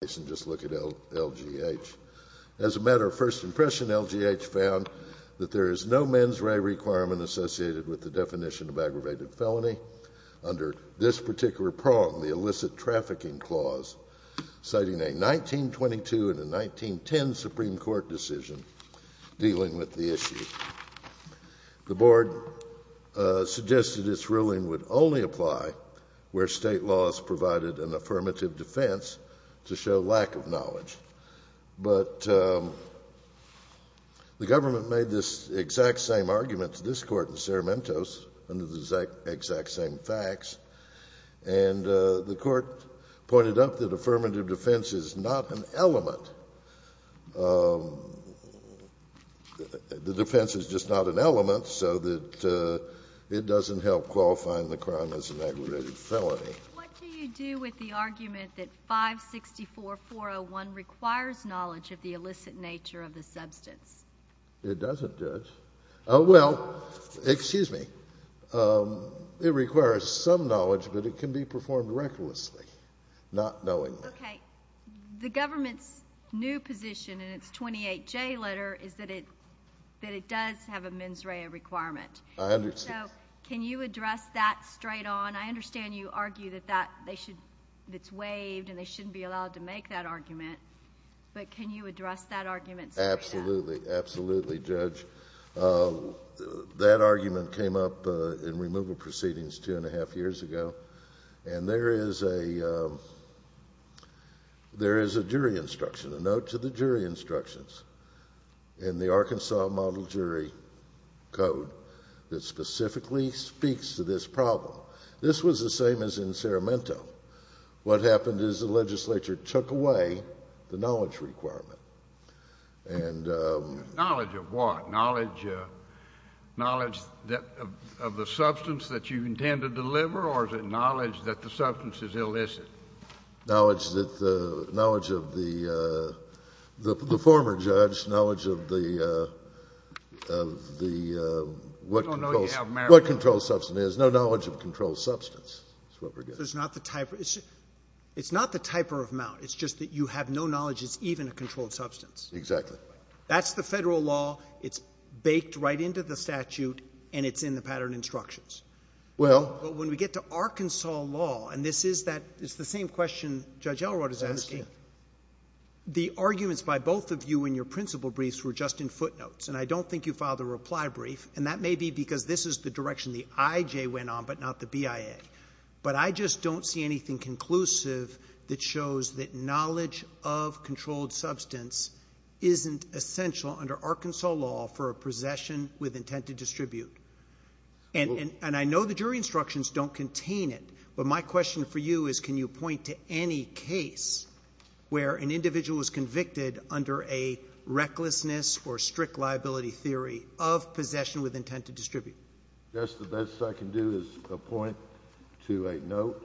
As a matter of first impression, LGH found that there is no mens rea requirement associated with the definition of aggravated felony under this particular prong, the illicit trafficking clause, citing a 1922 and a 1910 Supreme Court decision dealing with the issue. The board suggested its ruling would only apply where state laws provided an affirmative defense to show lack of knowledge. But the government made this exact same argument to this court in Cerementos under the exact same facts. And the court pointed out that affirmative defense is not an element. The defense is just not an element so that it doesn't help qualifying the crime as an aggravated felony. What do you do with the argument that 564-401 requires knowledge of the illicit nature of the substance? It doesn't, Judge. Well, excuse me, it requires some knowledge, but it can be performed recklessly, not knowingly. Okay. The government's new position in its 28J letter is that it does have a mens rea requirement. I understand. So can you address that straight on? I understand you argue that it's waived and they shouldn't be allowed to make that argument, but can you address that argument straight on? Absolutely. Absolutely, Judge. That argument came up in removal proceedings two and a half years ago. And there is a jury instruction, a note to the jury instructions in the Arkansas Model Jury Code that specifically speaks to this problem. This was the same as in Ceremento. What happened is the legislature took away the knowledge requirement and Knowledge of what? Knowledge of the substance that you intend to deliver or is it knowledge that the substance is illicit? Knowledge of the former judge, knowledge of the what control substance is. No knowledge of control substance is what we're getting. It's not the type of amount. It's just that you have no knowledge. It's even a controlled substance. Exactly. That's the Federal law. It's baked right into the statute and it's in the pattern instructions. Well. But when we get to Arkansas law, and this is that it's the same question Judge Elrod is asking. I understand. The arguments by both of you in your principal briefs were just in footnotes. And I don't think you filed a reply brief, and that may be because this is the direction the IJ went on, but not the BIA. But I just don't see anything conclusive that shows that knowledge of controlled substance isn't essential under Arkansas law for a possession with intent to distribute. And I know the jury instructions don't contain it, but my question for you is can you point to any case where an individual was convicted under a recklessness or strict liability theory of possession with intent to distribute? I guess the best I can do is point to a note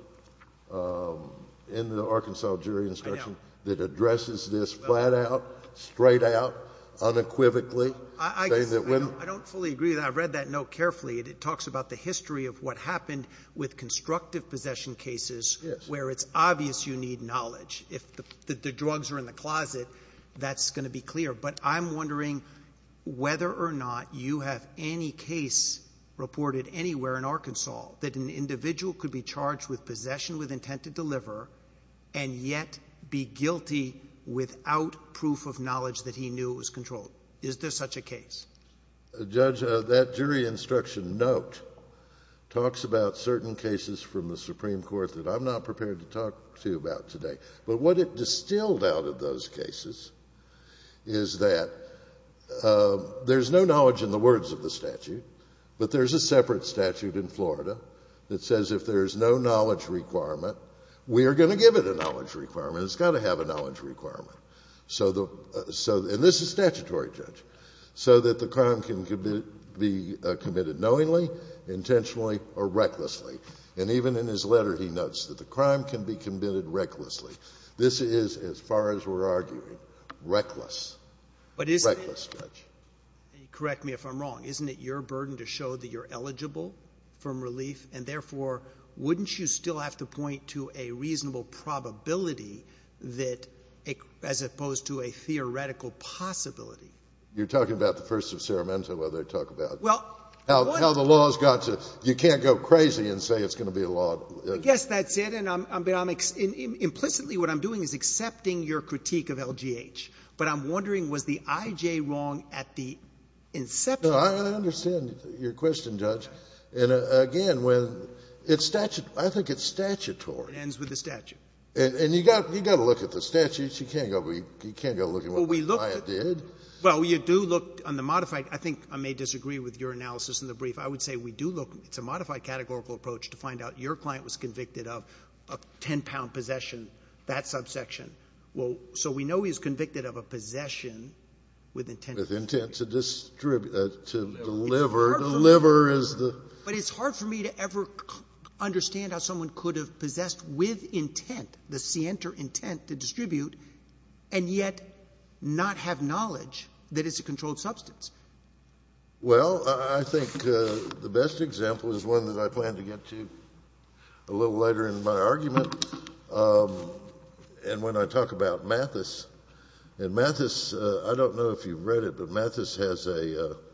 in the Arkansas jury instruction that addresses this flat out, straight out, unequivocally, says that when. I don't fully agree with that. I've read that note carefully. It talks about the history of what happened with constructive possession cases where it's obvious you need knowledge. If the drugs are in the closet, that's going to be clear. But I'm wondering whether or not you have any case reported anywhere in Arkansas that an individual could be charged with possession with intent to deliver and yet be guilty without proof of knowledge that he knew it was controlled. Is there such a case? Judge, that jury instruction note talks about certain cases from the Supreme Court that I'm not prepared to talk to you about today. But what it distilled out of those cases is that there's no knowledge in the words of the statute, but there's a separate statute in Florida that says if there's no knowledge requirement, we are going to give it a knowledge requirement. It's got to have a knowledge requirement. And this is statutory, Judge. So that the crime can be committed knowingly, intentionally, or recklessly. And even in his letter, he notes that the crime can be committed recklessly. This is, as far as we're arguing, reckless. Reckless, Judge. Correct me if I'm wrong. Isn't it your burden to show that you're eligible from relief? And therefore, wouldn't you still have to point to a reasonable probability as opposed to a theoretical possibility? You're talking about the First of Seremento, whether I talk about how the law's got to – you can't go crazy and say it's going to be a law. Yes, that's it. And I'm – but I'm – implicitly, what I'm doing is accepting your critique of LGH. But I'm wondering, was the IJ wrong at the inception? No, I understand your question, Judge. And again, when – it's statute – I think it's statutory. It ends with the statute. And you got to look at the statutes. You can't go looking at what the client did. Well, you do look on the modified – I think I may disagree with your analysis in the of 10-pound possession, that subsection. Well, so we know he's convicted of a possession with intent to distribute. With intent to distribute – to deliver – to deliver is the – But it's hard for me to ever understand how someone could have possessed with intent, the scienter intent to distribute, and yet not have knowledge that it's a controlled substance. Well, I think the best example is one that I plan to get to a little later in my argument. And when I talk about Mathis – and Mathis – I don't know if you've read it, but Mathis has a –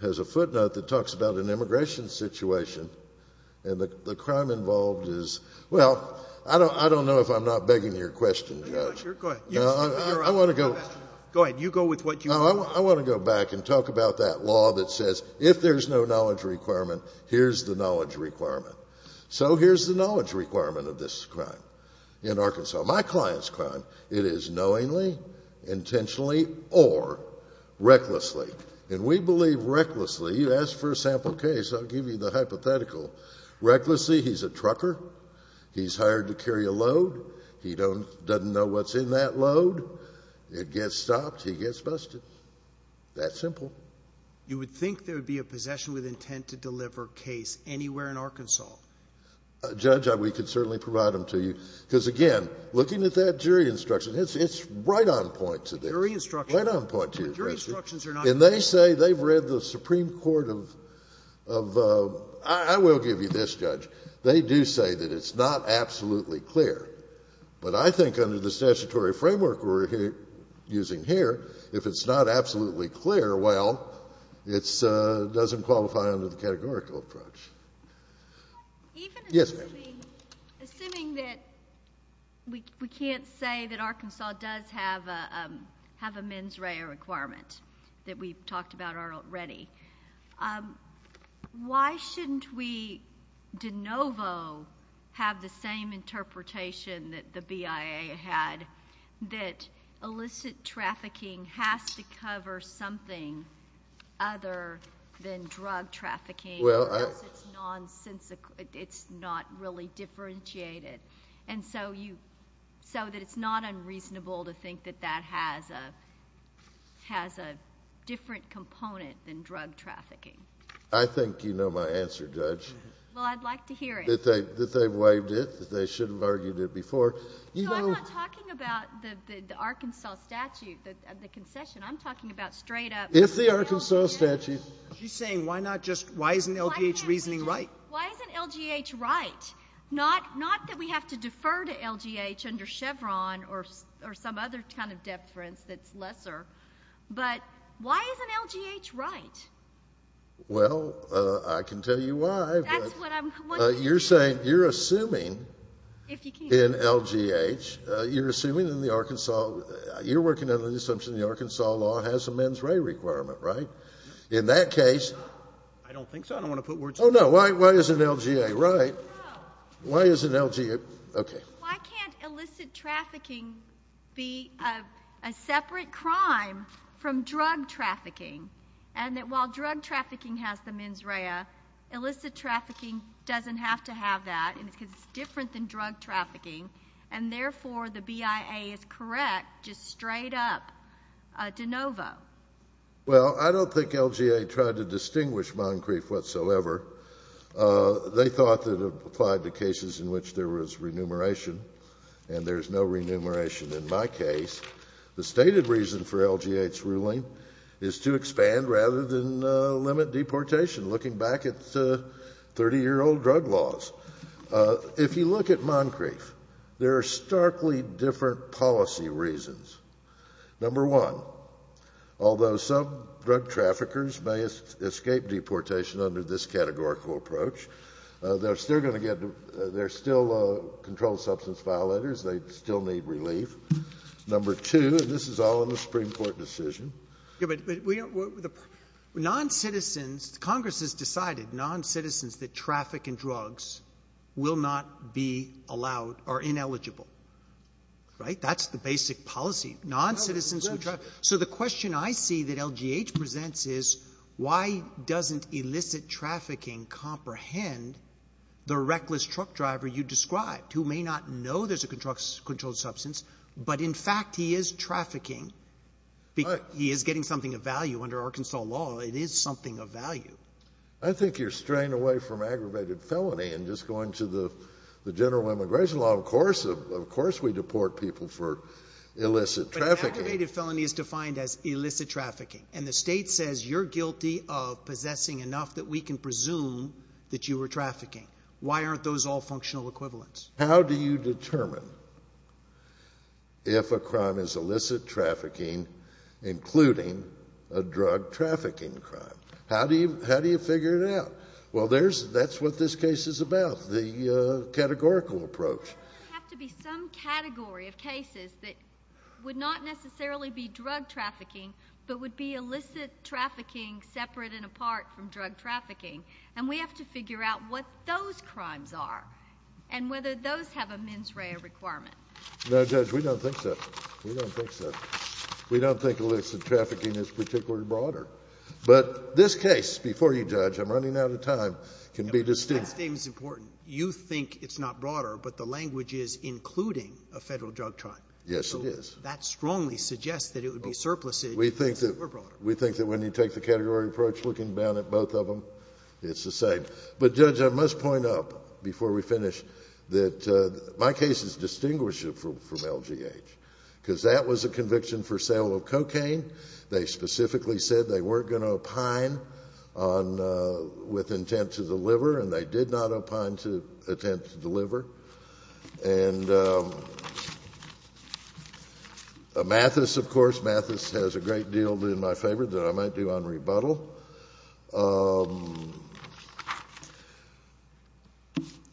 has a footnote that talks about an immigration situation. And the crime involved is – well, I don't know if I'm not begging your question, Judge. You're not sure? Go ahead. No, I want to go – Go ahead. You go with what you want. No, I want to go back and talk about that law that says if there's no knowledge requirement, here's the knowledge requirement. So here's the knowledge requirement of this crime in Arkansas. My client's crime, it is knowingly, intentionally, or recklessly. And we believe recklessly – you ask for a sample case, I'll give you the hypothetical. Recklessly, he's a trucker. He's hired to carry a load. He doesn't know what's in that load. It gets stopped, he gets busted. That simple. You would think there would be a possession with intent to deliver case anywhere in Arkansas. Judge, we could certainly provide them to you. Because again, looking at that jury instruction, it's right on point to this. The jury instruction – Right on point to this. The jury instructions are not clear. And they say – they've read the Supreme Court of – I will give you this, Judge. They do say that it's not absolutely clear. But I think under the statutory framework we're using here, if it's not absolutely clear, well, it doesn't qualify under the categorical approach. Yes, ma'am. Assuming that we can't say that Arkansas does have a mens rea requirement that we've talked about already, why shouldn't we de novo have the same interpretation that the fact that illicit trafficking has to cover something other than drug trafficking, or else it's nonsensical – it's not really differentiated. And so you – so that it's not unreasonable to think that that has a different component than drug trafficking. I think you know my answer, Judge. Well, I'd like to hear it. That they've waived it, that they should have argued it before. No, I'm not talking about the Arkansas statute, the concession. I'm talking about straight-up – If the Arkansas statute – She's saying why not just – why isn't LGH reasoning right? Why isn't LGH right? Not that we have to defer to LGH under Chevron or some other kind of deference that's lesser, but why isn't LGH right? Well, I can tell you why. That's what I'm wondering. You're saying – you're assuming in LGH – you're assuming in the Arkansas – you're working under the assumption the Arkansas law has a mens rea requirement, right? In that case – I don't think so. I don't want to put words in your mouth. Oh, no. Why isn't LGA right? No. Why isn't LGA – okay. Why can't illicit trafficking be a separate crime from drug trafficking, and that while drug trafficking has the mens rea, illicit trafficking doesn't have to have that because it's different than drug trafficking, and therefore the BIA is correct, just straight-up de novo? Well, I don't think LGA tried to distinguish Moncrief whatsoever. They thought that it applied to cases in which there was remuneration, and there's no remuneration in my case. The stated reason for LGA's ruling is to expand rather than limit deportation, looking back at 30-year-old drug laws. If you look at Moncrief, there are starkly different policy reasons. Number one, although some drug traffickers may escape deportation under this categorical approach, they're still going to get – they're still controlled substance violators. They still need relief. Number two, and this is all in the Supreme Court decision. Yeah, but we – non-citizens – Congress has decided non-citizens that traffic and drugs will not be allowed or ineligible, right? That's the basic policy. Non-citizens who – so the question I see that LGH presents is why doesn't illicit trafficking comprehend the reckless truck driver you described, who may not know there's a controlled substance, but in fact he is trafficking. He is getting something of value under Arkansas law. It is something of value. I think you're straying away from aggravated felony and just going to the general immigration law. Of course we deport people for illicit trafficking. But aggravated felony is defined as illicit trafficking, and the state says you're guilty of possessing enough that we can presume that you were trafficking. Why aren't those all functional equivalents? How do you determine if a crime is illicit trafficking, including a drug trafficking crime? How do you – how do you figure it out? Well, there's – that's what this case is about, the categorical approach. Doesn't it have to be some category of cases that would not necessarily be drug trafficking but would be illicit trafficking separate and apart from drug trafficking? And we have to figure out what those crimes are and whether those have a mens rea requirement. No, Judge, we don't think so. We don't think so. We don't think illicit trafficking is particularly broader. But this case – before you, Judge, I'm running out of time – can be distinguished. That statement's important. You think it's not broader, but the language is including a federal drug crime. Yes, it is. That strongly suggests that it would be surplus if it were broader. We think that when you take the category approach, looking down at both of them, it's the same. But, Judge, I must point out before we finish that my case is distinguished from LGH, because that was a conviction for sale of cocaine. They specifically said they weren't going to opine on – with intent to deliver, and they did not opine to attempt to deliver. And Mathis, of course – Mathis has a great deal in my favor that I might do on rebuttal.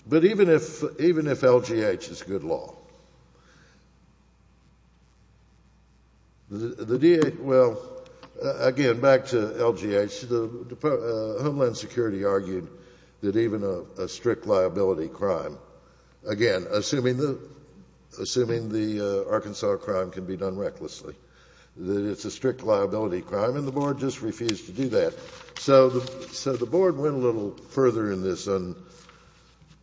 But even if – even if LGH is good law, the – well, again, back to LGH, Homeland Security argued that even a strict liability crime – again, assuming the Arkansas crime can be done recklessly – that it's a strict liability crime, and the Board just refused to do that. So the Board went a little further in this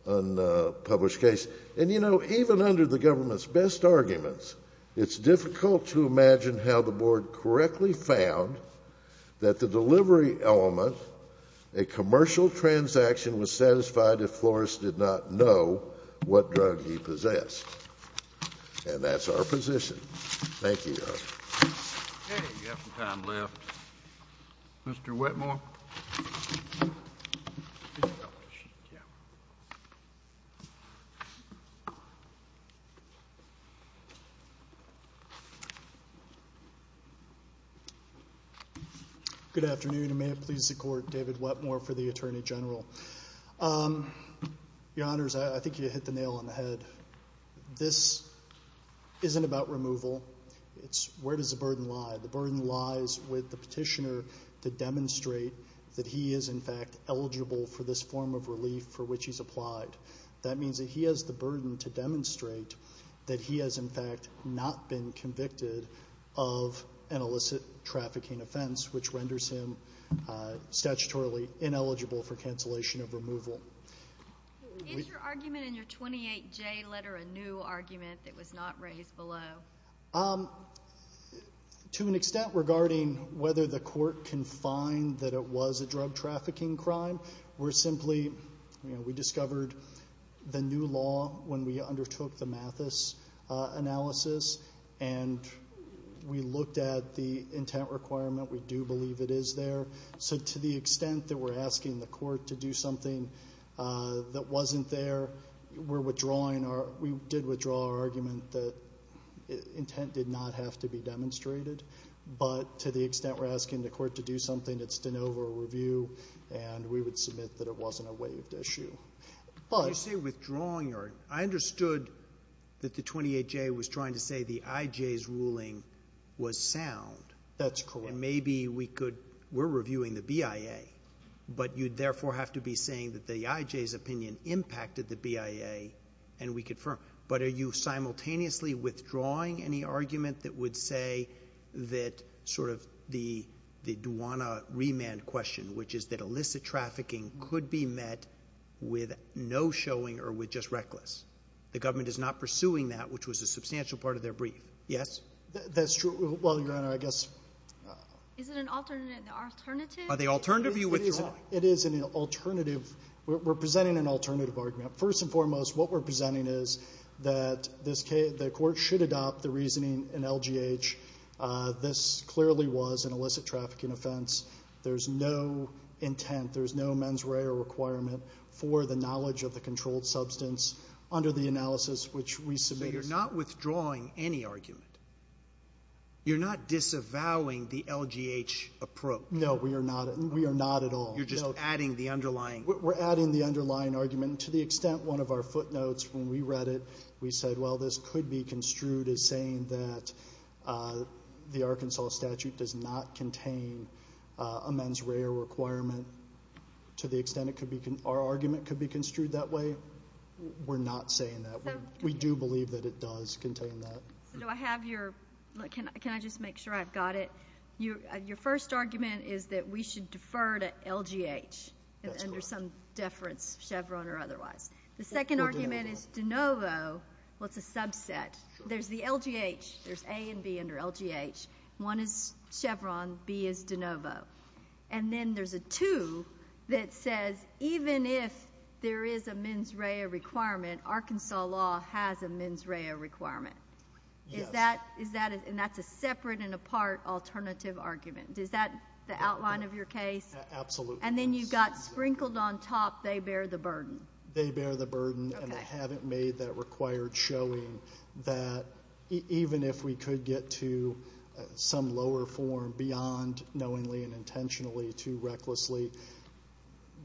unpublished case. And, you know, even under the government's best arguments, it's difficult to imagine how the Board correctly found that the delivery element, a commercial transaction, was satisfied if Flores did not know what drug he possessed. And that's our position. Thank you, Your Honor. JUSTICE KENNEDY. Okay. We have some time left. Mr. Wetmore. MR. WETMORE. Good morning, Justice Kennedy. Good afternoon, and may it please the Court, David Wetmore for the Attorney General. Your Honors, I think you hit the nail on the head. This isn't about removal. It's where does the burden lie. The burden lies with the petitioner to demonstrate that he is, in fact, eligible for this form of relief for which he's applied. That means that he has the burden to demonstrate that he has, in fact, not been convicted of an illicit trafficking offense, which renders him statutorily ineligible for cancellation of removal. JUSTICE KENNEDY. Is your argument in your 28J letter a new argument that was not raised MR. WETMORE. To an extent regarding whether the Court can find that it was a drug trafficking crime, we're simply, you know, we discovered the new law when we undertook the Mathis analysis, and we looked at the intent requirement. We do believe it is there. So to the extent that we're asking the Court to do something that wasn't there, we're withdrawing our – we did withdraw our argument that intent did not have to be demonstrated. But to the extent we're asking the Court to do something, it's de novo a review, and we would submit that it wasn't a waived issue. But MR. KENNEDY. When you say withdrawing, I understood that the 28J was trying to say the IJ's ruling was sound. MR. WETMORE. That's correct. MR. KENNEDY. And maybe we could – we're reviewing the BIA, but you'd therefore have to be saying that the IJ's opinion impacted the BIA, and we confirm. But are you simultaneously withdrawing any argument that would say that sort of the Duana remand question, which is that illicit trafficking could be met with no showing or with just reckless? The government is not pursuing that, which was a substantial part of their brief. Yes? MR. WETMORE. That's true. Well, Your Honor, I guess – MS. MOSS. Is it an alternative? MR. KENNEDY. Are they alternative? You withdraw. MR. WETMORE. It is an alternative. We're presenting an alternative argument. First and foremost, what we're presenting is that this – the Court should adopt the reasoning in LGH. This clearly was an illicit trafficking offense. There's no intent, there's no mens rea or requirement for the knowledge of the controlled substance under the analysis MR. KENNEDY. So you're not withdrawing any argument? You're not disavowing the LGH approach? MR. WETMORE. No, we are not. We are not at all. MR. KENNEDY. You're just adding the underlying – MR. WETMORE. We're adding the underlying argument. To the extent one of our footnotes when we read it, we said, well, this could be construed as saying that the Arkansas statute does not contain a mens rea requirement. To the extent it could be – our argument could be construed that way, we're not saying that. We do believe that it does contain that. MS. MOSS. So do I have your – can I just make sure I've got it? Your first argument is that we should defer to LGH under some deference, Chevron or otherwise. The second argument is de novo, what's a subset? There's the LGH. There's A and B under LGH. One is Chevron, B is de novo. And then there's a two that says even if there is a mens rea requirement, Arkansas law has a mens rea requirement. MR. WETMORE. Yes. MS. MOSS. Is that – and that's a separate and apart alternative argument. Is that the outline of your case? MR. WETMORE. Absolutely. MS. MOSS. And then you've got sprinkled on top, they bear the burden. MR. WETMORE. And they haven't made that required showing that even if we could get to some lower form beyond knowingly and intentionally to recklessly,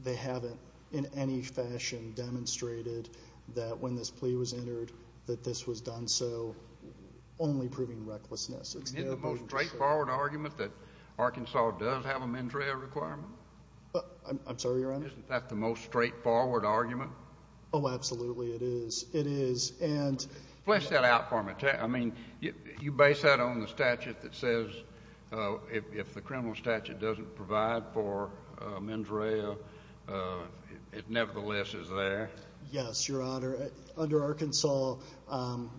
they haven't in any fashion demonstrated that when this plea was entered, that this was done so, only proving recklessness. MR. WESTMORELAND. Isn't it the most straightforward argument that Arkansas does have a mens rea requirement? MR. WETMORE. I'm sorry, Your Honor? MR. WESTMORELAND. Isn't that the most straightforward argument? MR. WETMORE. Oh, absolutely it is. It is. And – MR. WESTMORELAND. Flesh that out for me. I mean, you base that on the statute that says if the criminal statute doesn't provide for mens rea, it nevertheless is there? MR. WETMORE. Yes, Your Honor. Under Arkansas,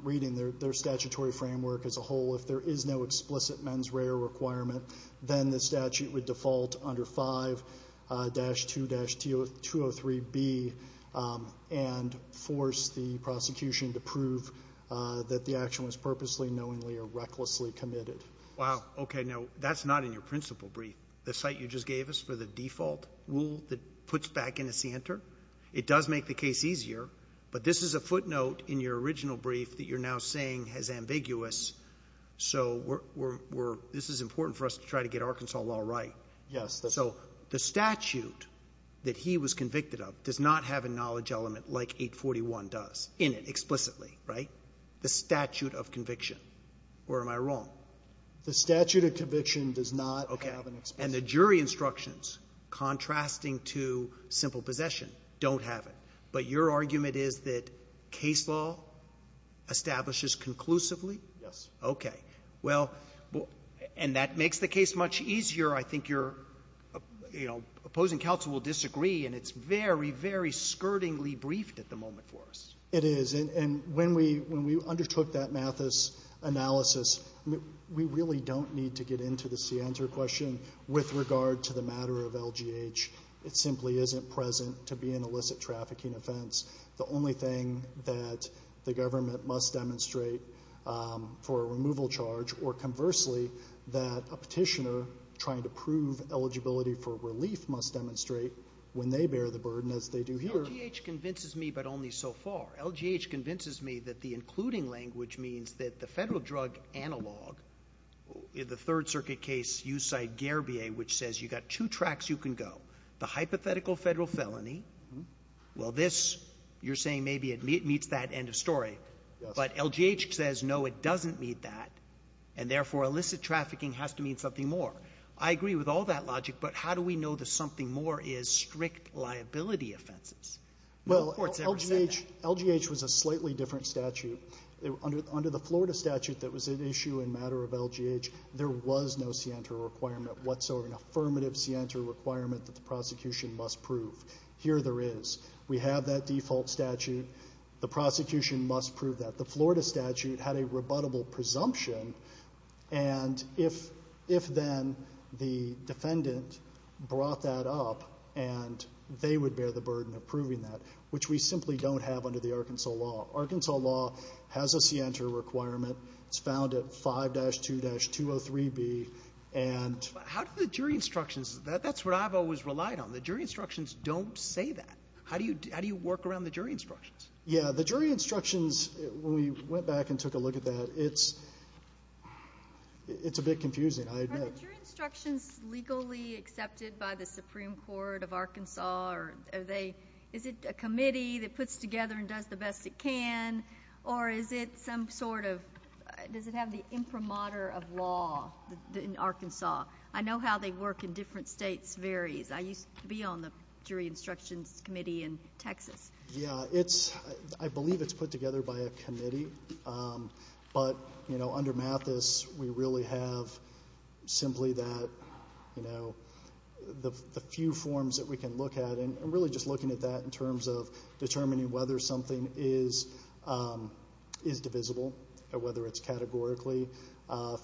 reading their statutory framework as a whole, if there is no explicit mens rea requirement, then the statute would default under 5-2-203B and force the prosecution to prove that the action was purposely, knowingly, or recklessly committed. MR. WESTMORELAND. Wow. Okay. Now, that's not in your principal brief, the cite you just gave us for the default rule that puts back in a scienter. It does make the case easier, but this is a footnote in your original brief that you're now saying is ambiguous. So, this is important for us to try to get Arkansas law right. MR. WETMORE. Yes. MR. WESTMORELAND. So, the statute that he was convicted of does not have a knowledge element like 841 does in it, explicitly, right? The statute of conviction. Or am I wrong? MR. WESTMORELAND. The statute of conviction does not have an explicit element. MR. WESTMORELAND. Okay. And the jury instructions, contrasting to simple possession, don't have it. But your argument is that case law establishes conclusively? MR. WESTMORELAND. Yes. MR. WESTMORELAND. Okay. And that makes the case much easier. I think your opposing counsel will disagree, and it's very, very skirtingly briefed at the moment for us. MR. WESTMORELAND. It is. And when we undertook that Mathis analysis, we really don't need to get into the scienter question with regard to the matter of LGH. It simply isn't present to be an illicit trafficking offense. The only thing that the government must demonstrate for a removal charge, or conversely, that a petitioner trying to prove eligibility for relief must demonstrate when they bear the burden, as they do here. MR. SORENSEN. LGH convinces me, but only so far. LGH convinces me that the including language means that the federal drug analog, the Third Circuit case, you cite Garebier, which says you've got two tracks you can go. The hypothetical federal felony, well, this, you're saying maybe it meets that end of story. But LGH says, no, it doesn't meet that, and therefore, illicit trafficking has to mean something more. I agree with all that logic, but how do we know that something more is strict liability offenses? No court's ever said that. MR. WESTMORELAND. Well, LGH was a slightly different statute. Under the Florida statute that was at issue in matter of LGH, there was no scienter requirement whatsoever, an affirmative scienter requirement that the prosecution must prove. Here there is. We have that default statute. The prosecution must prove that. The Florida statute had a rebuttable presumption, and if then the defendant brought that up, and they would bear the burden of proving that, which we simply don't have under the Arkansas law. Arkansas law has a scienter requirement. It's found at 5-2-203B, and... MR. SORENSEN. How do the jury instructions, that's what I've always relied on. The jury instructions don't say that. How do you work around the jury instructions? MR. WESTMORELAND. Yeah, the jury instructions, when we went back and took a look at that, it's a bit confusing, I admit. MS. CODY. Are the jury instructions legally accepted by the Supreme Court of Arkansas, or is it a committee that puts together and does the best it can, or is it some sort of, does it have the imprimatur of law in Arkansas? I know how they work in different states varies. I used to be on the jury instructions committee in Texas. MR. WESTMORELAND. Yeah, it's, I believe it's put together by a committee, but, you know, under Mathis, we really have simply that, you know, the few forms that we can look at, and really just looking at that in terms of determining whether something is divisible, or whether it's categorically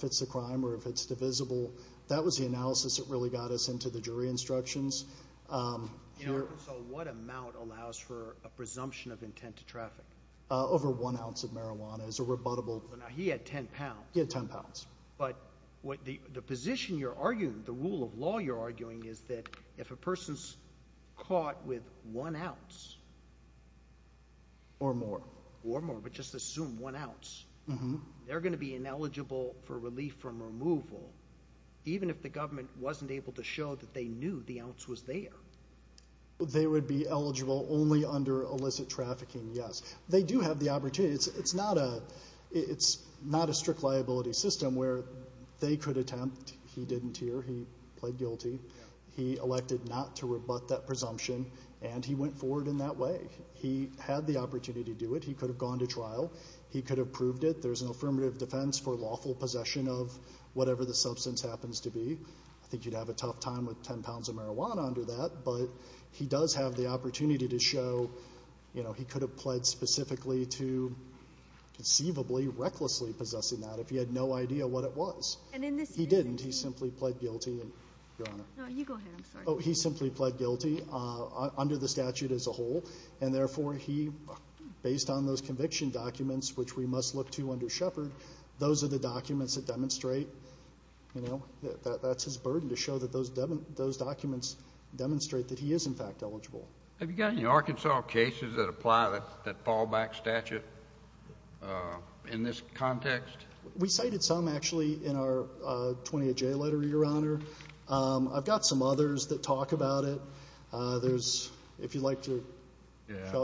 fits the crime, or if it's divisible. That was the analysis that really got us into the jury instructions. MR. SORENSEN. You know, Arkansas, what amount allows for a presumption of intent to traffic? MR. WESTMORELAND. Over one ounce of marijuana is a rebuttable... MR. SORENSEN. Now, he had 10 pounds. MR. WESTMORELAND. He had 10 pounds. MR. SORENSEN. But the position you're arguing, the rule of law you're arguing is that if a person's caught with one ounce, or more, or more, but just assume one ounce, they're going to be ineligible for relief from removal, even if the government wasn't able to show that they knew the ounce was there. MR. WESTMORELAND. They would be eligible only under illicit trafficking, yes. They do have the opportunity. It's not a strict liability system where they could attempt. He didn't here. He pled guilty. He elected not to rebut that presumption, and he went forward in that way. He had the opportunity to do it. He could have gone to trial. He could have proved it. There's an affirmative defense for lawful possession of whatever the substance happens to be. I think you'd have a tough time with 10 pounds of marijuana under that, but he does have the opportunity to plead specifically to conceivably, recklessly possessing that if he had no idea what it was. He didn't. He simply pled guilty under the statute as a whole, and therefore, based on those conviction documents, which we must look to under Shepard, those are the documents that demonstrate, you know, that's his burden to show that those documents demonstrate that he is, in fact, eligible. MR. SORENSEN. Have you got any Arkansas cases that apply to that fallback statute in this context? MR. GARRETT. We cited some, actually, in our 20-J letter, Your Honor. I've got some others that talk about it. There's, if you'd like to,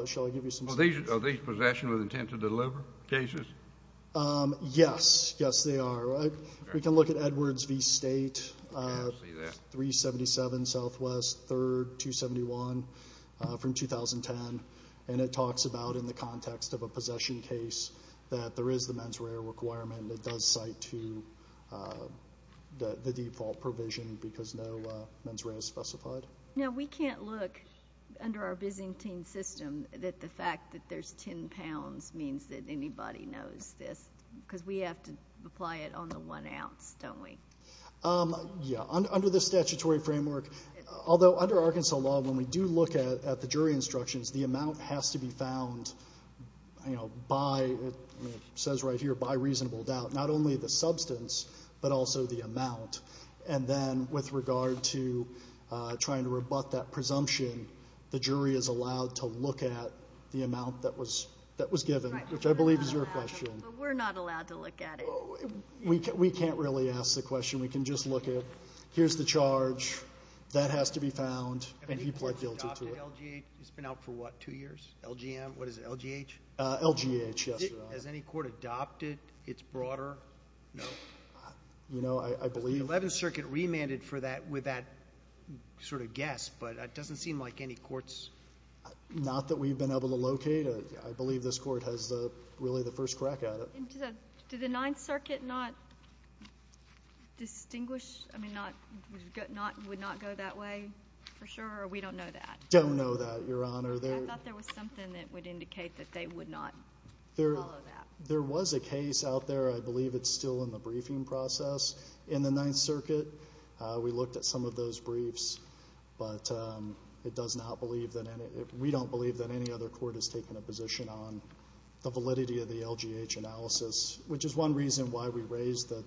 shall I give you some? MR. SORENSEN. Are these possession with intent to deliver cases? MR. GARRETT. Yes. Yes, they are. We can look at Edwards v. State, 377 Southwest, 3rd, 271, from 2010, and it talks about, in the context of a possession case, that there is the mens rea requirement. It does cite to the default provision because no mens rea is specified. MR. SORENSEN. Now, we can't look under our Byzantine system that the fact that there's 10 pounds means that anybody knows this, because we have to apply it on the one ounce, don't we? MR. GARRETT. Yes. Under the statutory framework, although under Arkansas law, when we do look at the jury instructions, the amount has to be found by, it says right here, by reasonable doubt, not only the substance, but also the amount. And then, with regard to trying to rebut that presumption, the jury is allowed to look at the amount that was given, which I believe is your question. MR. SORENSEN. But we're not allowed to look at it? MR. GARRETT. We can't really ask the question. We can just look at, here's the charge, that has to be found, and he pled guilty to it. MR. SORENSEN. Has any court adopted LGH? It's been out for, what, two years? LGM? What is it, LGH? MR. GARRETT. LGH, yes, Your Honor. MR. SORENSEN. Has any court adopted its broader note? MR. GARRETT. You know, I believe... MR. SORENSEN. The 11th Circuit remanded for that with that sort of guess, but it doesn't seem like any court's... MR. GARRETT. Not that we've been able to locate. I believe this court has really the first crack at it. MR. SORENSEN. Did the 9th Circuit not distinguish, I mean, would not go that way for sure, or we don't know that? MR. GARRETT. Don't know that, Your Honor. MR. SORENSEN. I thought there was something that would indicate that they would not follow that. MR. GARRETT. There was a case out there, I believe it's still in the briefing process, in the 9th Circuit. We looked at some of those briefs, but it does not believe, we don't believe that any other court has taken a position on the validity of the LGH analysis, which is one reason why we raised that,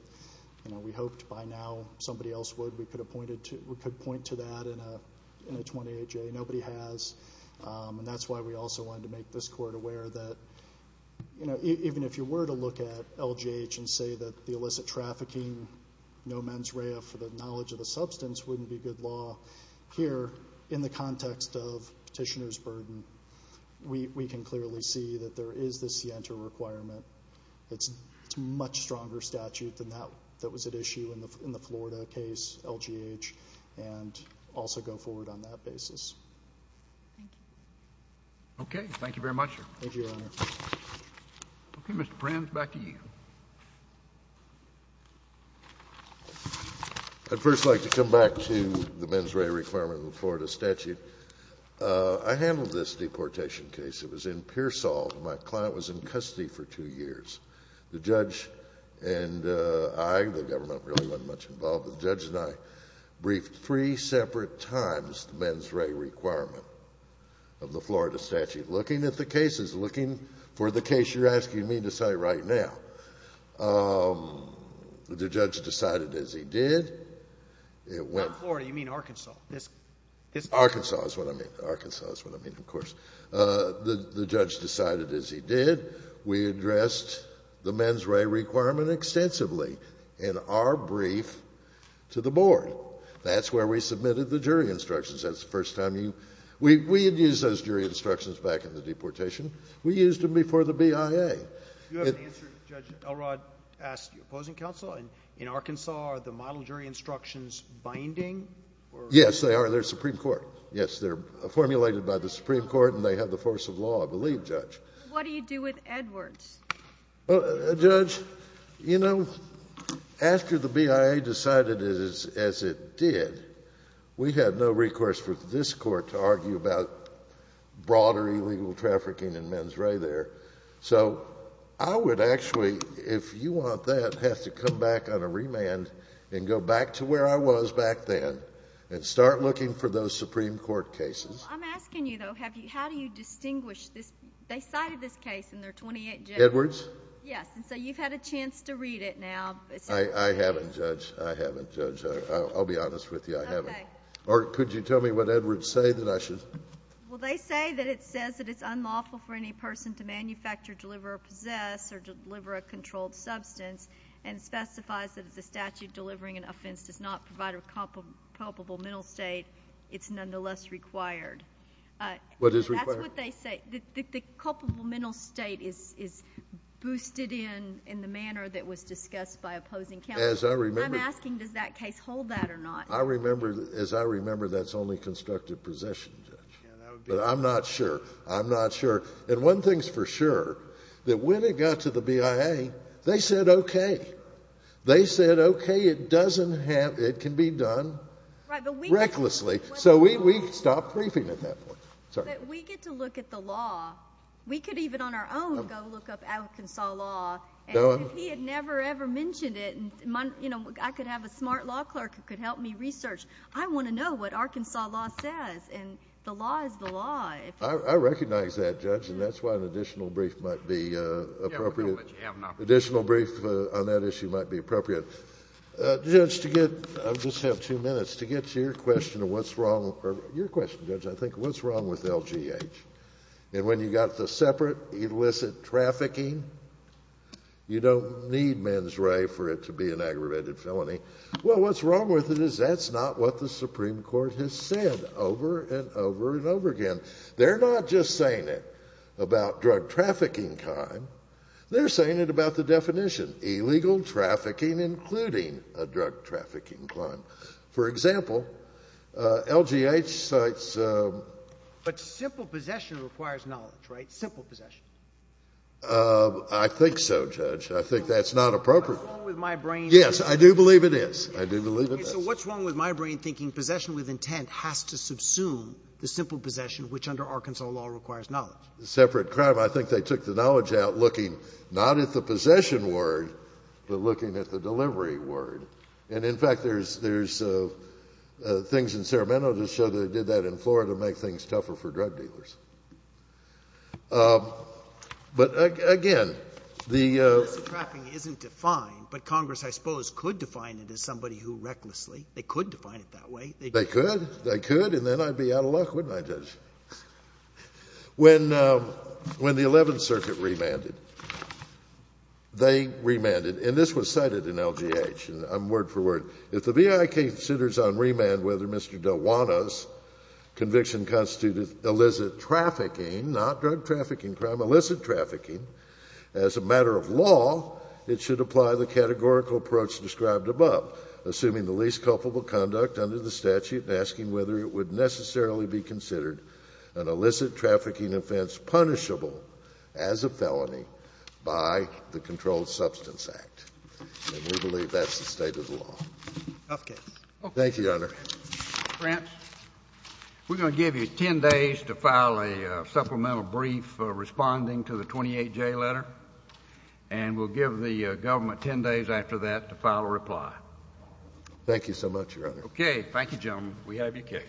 you know, we hoped by now somebody else would. We could point to that in a 28-J. Nobody has, and that's why we also wanted to make this court aware that, you know, even if you were to look at LGH and say that the illicit trafficking, no mens rea for the knowledge of the substance wouldn't be good law, here in the context of petitioner's burden, we can clearly see that there is this scienter requirement. It's a much stronger statute than that that was at issue in the Florida case, LGH, and also go forward on that basis. MR. SORENSEN. Okay. Thank you very much. MR. GARRETT. Thank you, Your Honor. MR. SORENSEN. Okay. Mr. Brans, back to you. MR. BRANS. I'd first like to come back to the mens rea requirement of the Florida statute. I handled this deportation case. It was in Pearsall, and my client was in custody for two years. The judge and I, the government really wasn't much involved, but the judge and I briefed three separate times the mens rea requirement of the Florida statute, looking at the cases, looking for the case you're asking me to cite right now. The judge decided as he did. MR. SORENSEN. Not Florida. You mean Arkansas. MR. BRANS. Arkansas is what I mean. Arkansas is what I mean, of course. The judge decided as he did. We addressed the mens rea requirement extensively in our brief to the board. That's where we used them before the BIA. MR. SORENSEN. You have an answer. Judge Elrod asked your opposing counsel. In Arkansas, are the model jury instructions binding? MR. BRANS. Yes, they are. They're Supreme Court. Yes, they're formulated by the Supreme Court, and they have the force of law, I believe, Judge. MR. SORENSEN. What do you do with Edwards? MR. BRANS. Judge, you know, after the BIA decided as it did, we had no recourse for this court to argue about broader illegal trafficking and mens rea there. So I would actually, if you want that, have to come back on a remand and go back to where I was back then and start looking for those Supreme Court cases. MR. SORENSEN. I'm asking you, though, how do you distinguish this? They cited this case in their 28th judgment. MR. BRANS. Edwards? MR. SORENSEN. Yes, and so you've had a chance to read it now. MR. BRANS. I haven't, Judge. I haven't, Judge. I'll be honest with you. I haven't. MR. SORENSEN. Okay. MR. BRANS. Or could you tell me what Edwards say that I should? MRS. MOSS. Well, they say that it says that it's unlawful for any person to manufacture, deliver, or possess or deliver a controlled substance, and specifies that as a statute delivering an offense does not provide a culpable mental state, it's nonetheless required. MR. SORENSEN. What is required? MRS. MOSS. That's what they say. The culpable mental state is boosted in in the manner that was discussed by opposing counsel. MR. SORENSEN. As I remember— MRS. MOSS. I'm asking, does that case hold that or not? MR. SORENSEN. As I remember, that's only constructive possession, Judge. MR. BRANS. Yeah, that would be— MR. SORENSEN. But I'm not sure. I'm not sure. And one thing's for sure, that when it got to the BIA, they said, okay. They said, okay, it doesn't have—it can be done recklessly. So we stopped briefing at that point. Sorry. MS. MOSS. But we get to look at the law. We could even on our own go look up Arkansas law, and if he had never, ever mentioned it, you know, I could have a smart law clerk who could help me research. I want to know what Arkansas law says, and the law is the law. MR. SORENSEN. I recognize that, Judge, and that's why an additional brief might be appropriate. Additional brief on that issue might be appropriate. Judge, to get—I just have two minutes to get to your question of what's wrong—your question, Judge, I think, what's wrong with LGH? And when you've got the separate illicit trafficking, you don't need mens rea for it to be an aggravated felony. Well, what's wrong with it is that's not what the Supreme Court has said over and over and over again. They're not just saying it about drug trafficking crime. They're saying it about the definition—illegal trafficking, including a drug trafficking crime. For example, LGH cites— JUDGE LEBEN. But simple possession requires knowledge, right? Simple possession. MR. SORENSEN. I think so, Judge. I think that's not appropriate. JUDGE LEBEN. What's wrong with my brain— MR. SORENSEN. Yes, I do believe it is. I do believe it is. JUDGE LEBEN. So what's wrong with my brain thinking possession with intent has to subsume the simple possession, which under Arkansas law requires knowledge? MR. SORENSEN. The separate crime, I think they took the knowledge out looking not at the possession word, but looking at the delivery word. And, in fact, there's things in But, again, the— JUDGE LEBEN. Well, illicit trafficking isn't defined, but Congress, I suppose, could define it as somebody who recklessly—they could define it that way. MR. SORENSEN. They could. They could. And then I'd be out of luck, wouldn't I, Judge? When the Eleventh Circuit remanded, they remanded. And this was cited in LGH, word for word. If the BIK considers on remand whether Mr. DeWana's conviction constituted illicit trafficking, not drug trafficking crime, illicit trafficking, as a matter of law, it should apply the categorical approach described above, assuming the least culpable conduct under the statute and asking whether it would necessarily be considered an illicit trafficking offense punishable as a felony by the Controlled Substance Act. And we believe that's the state of the law. JUDGE LEBEN. Okay. MR. SORENSEN. Thank you, Your Honor. JUSTICE KENNEDY. Grant, we're going to give you 10 days to file a supplemental brief responding to the 28J letter, and we'll give the government 10 days after that to file a reply. MR. SORENSEN. Thank you so much, Your Honor. JUSTICE KENNEDY. Okay. Thank you, gentlemen. We have your case.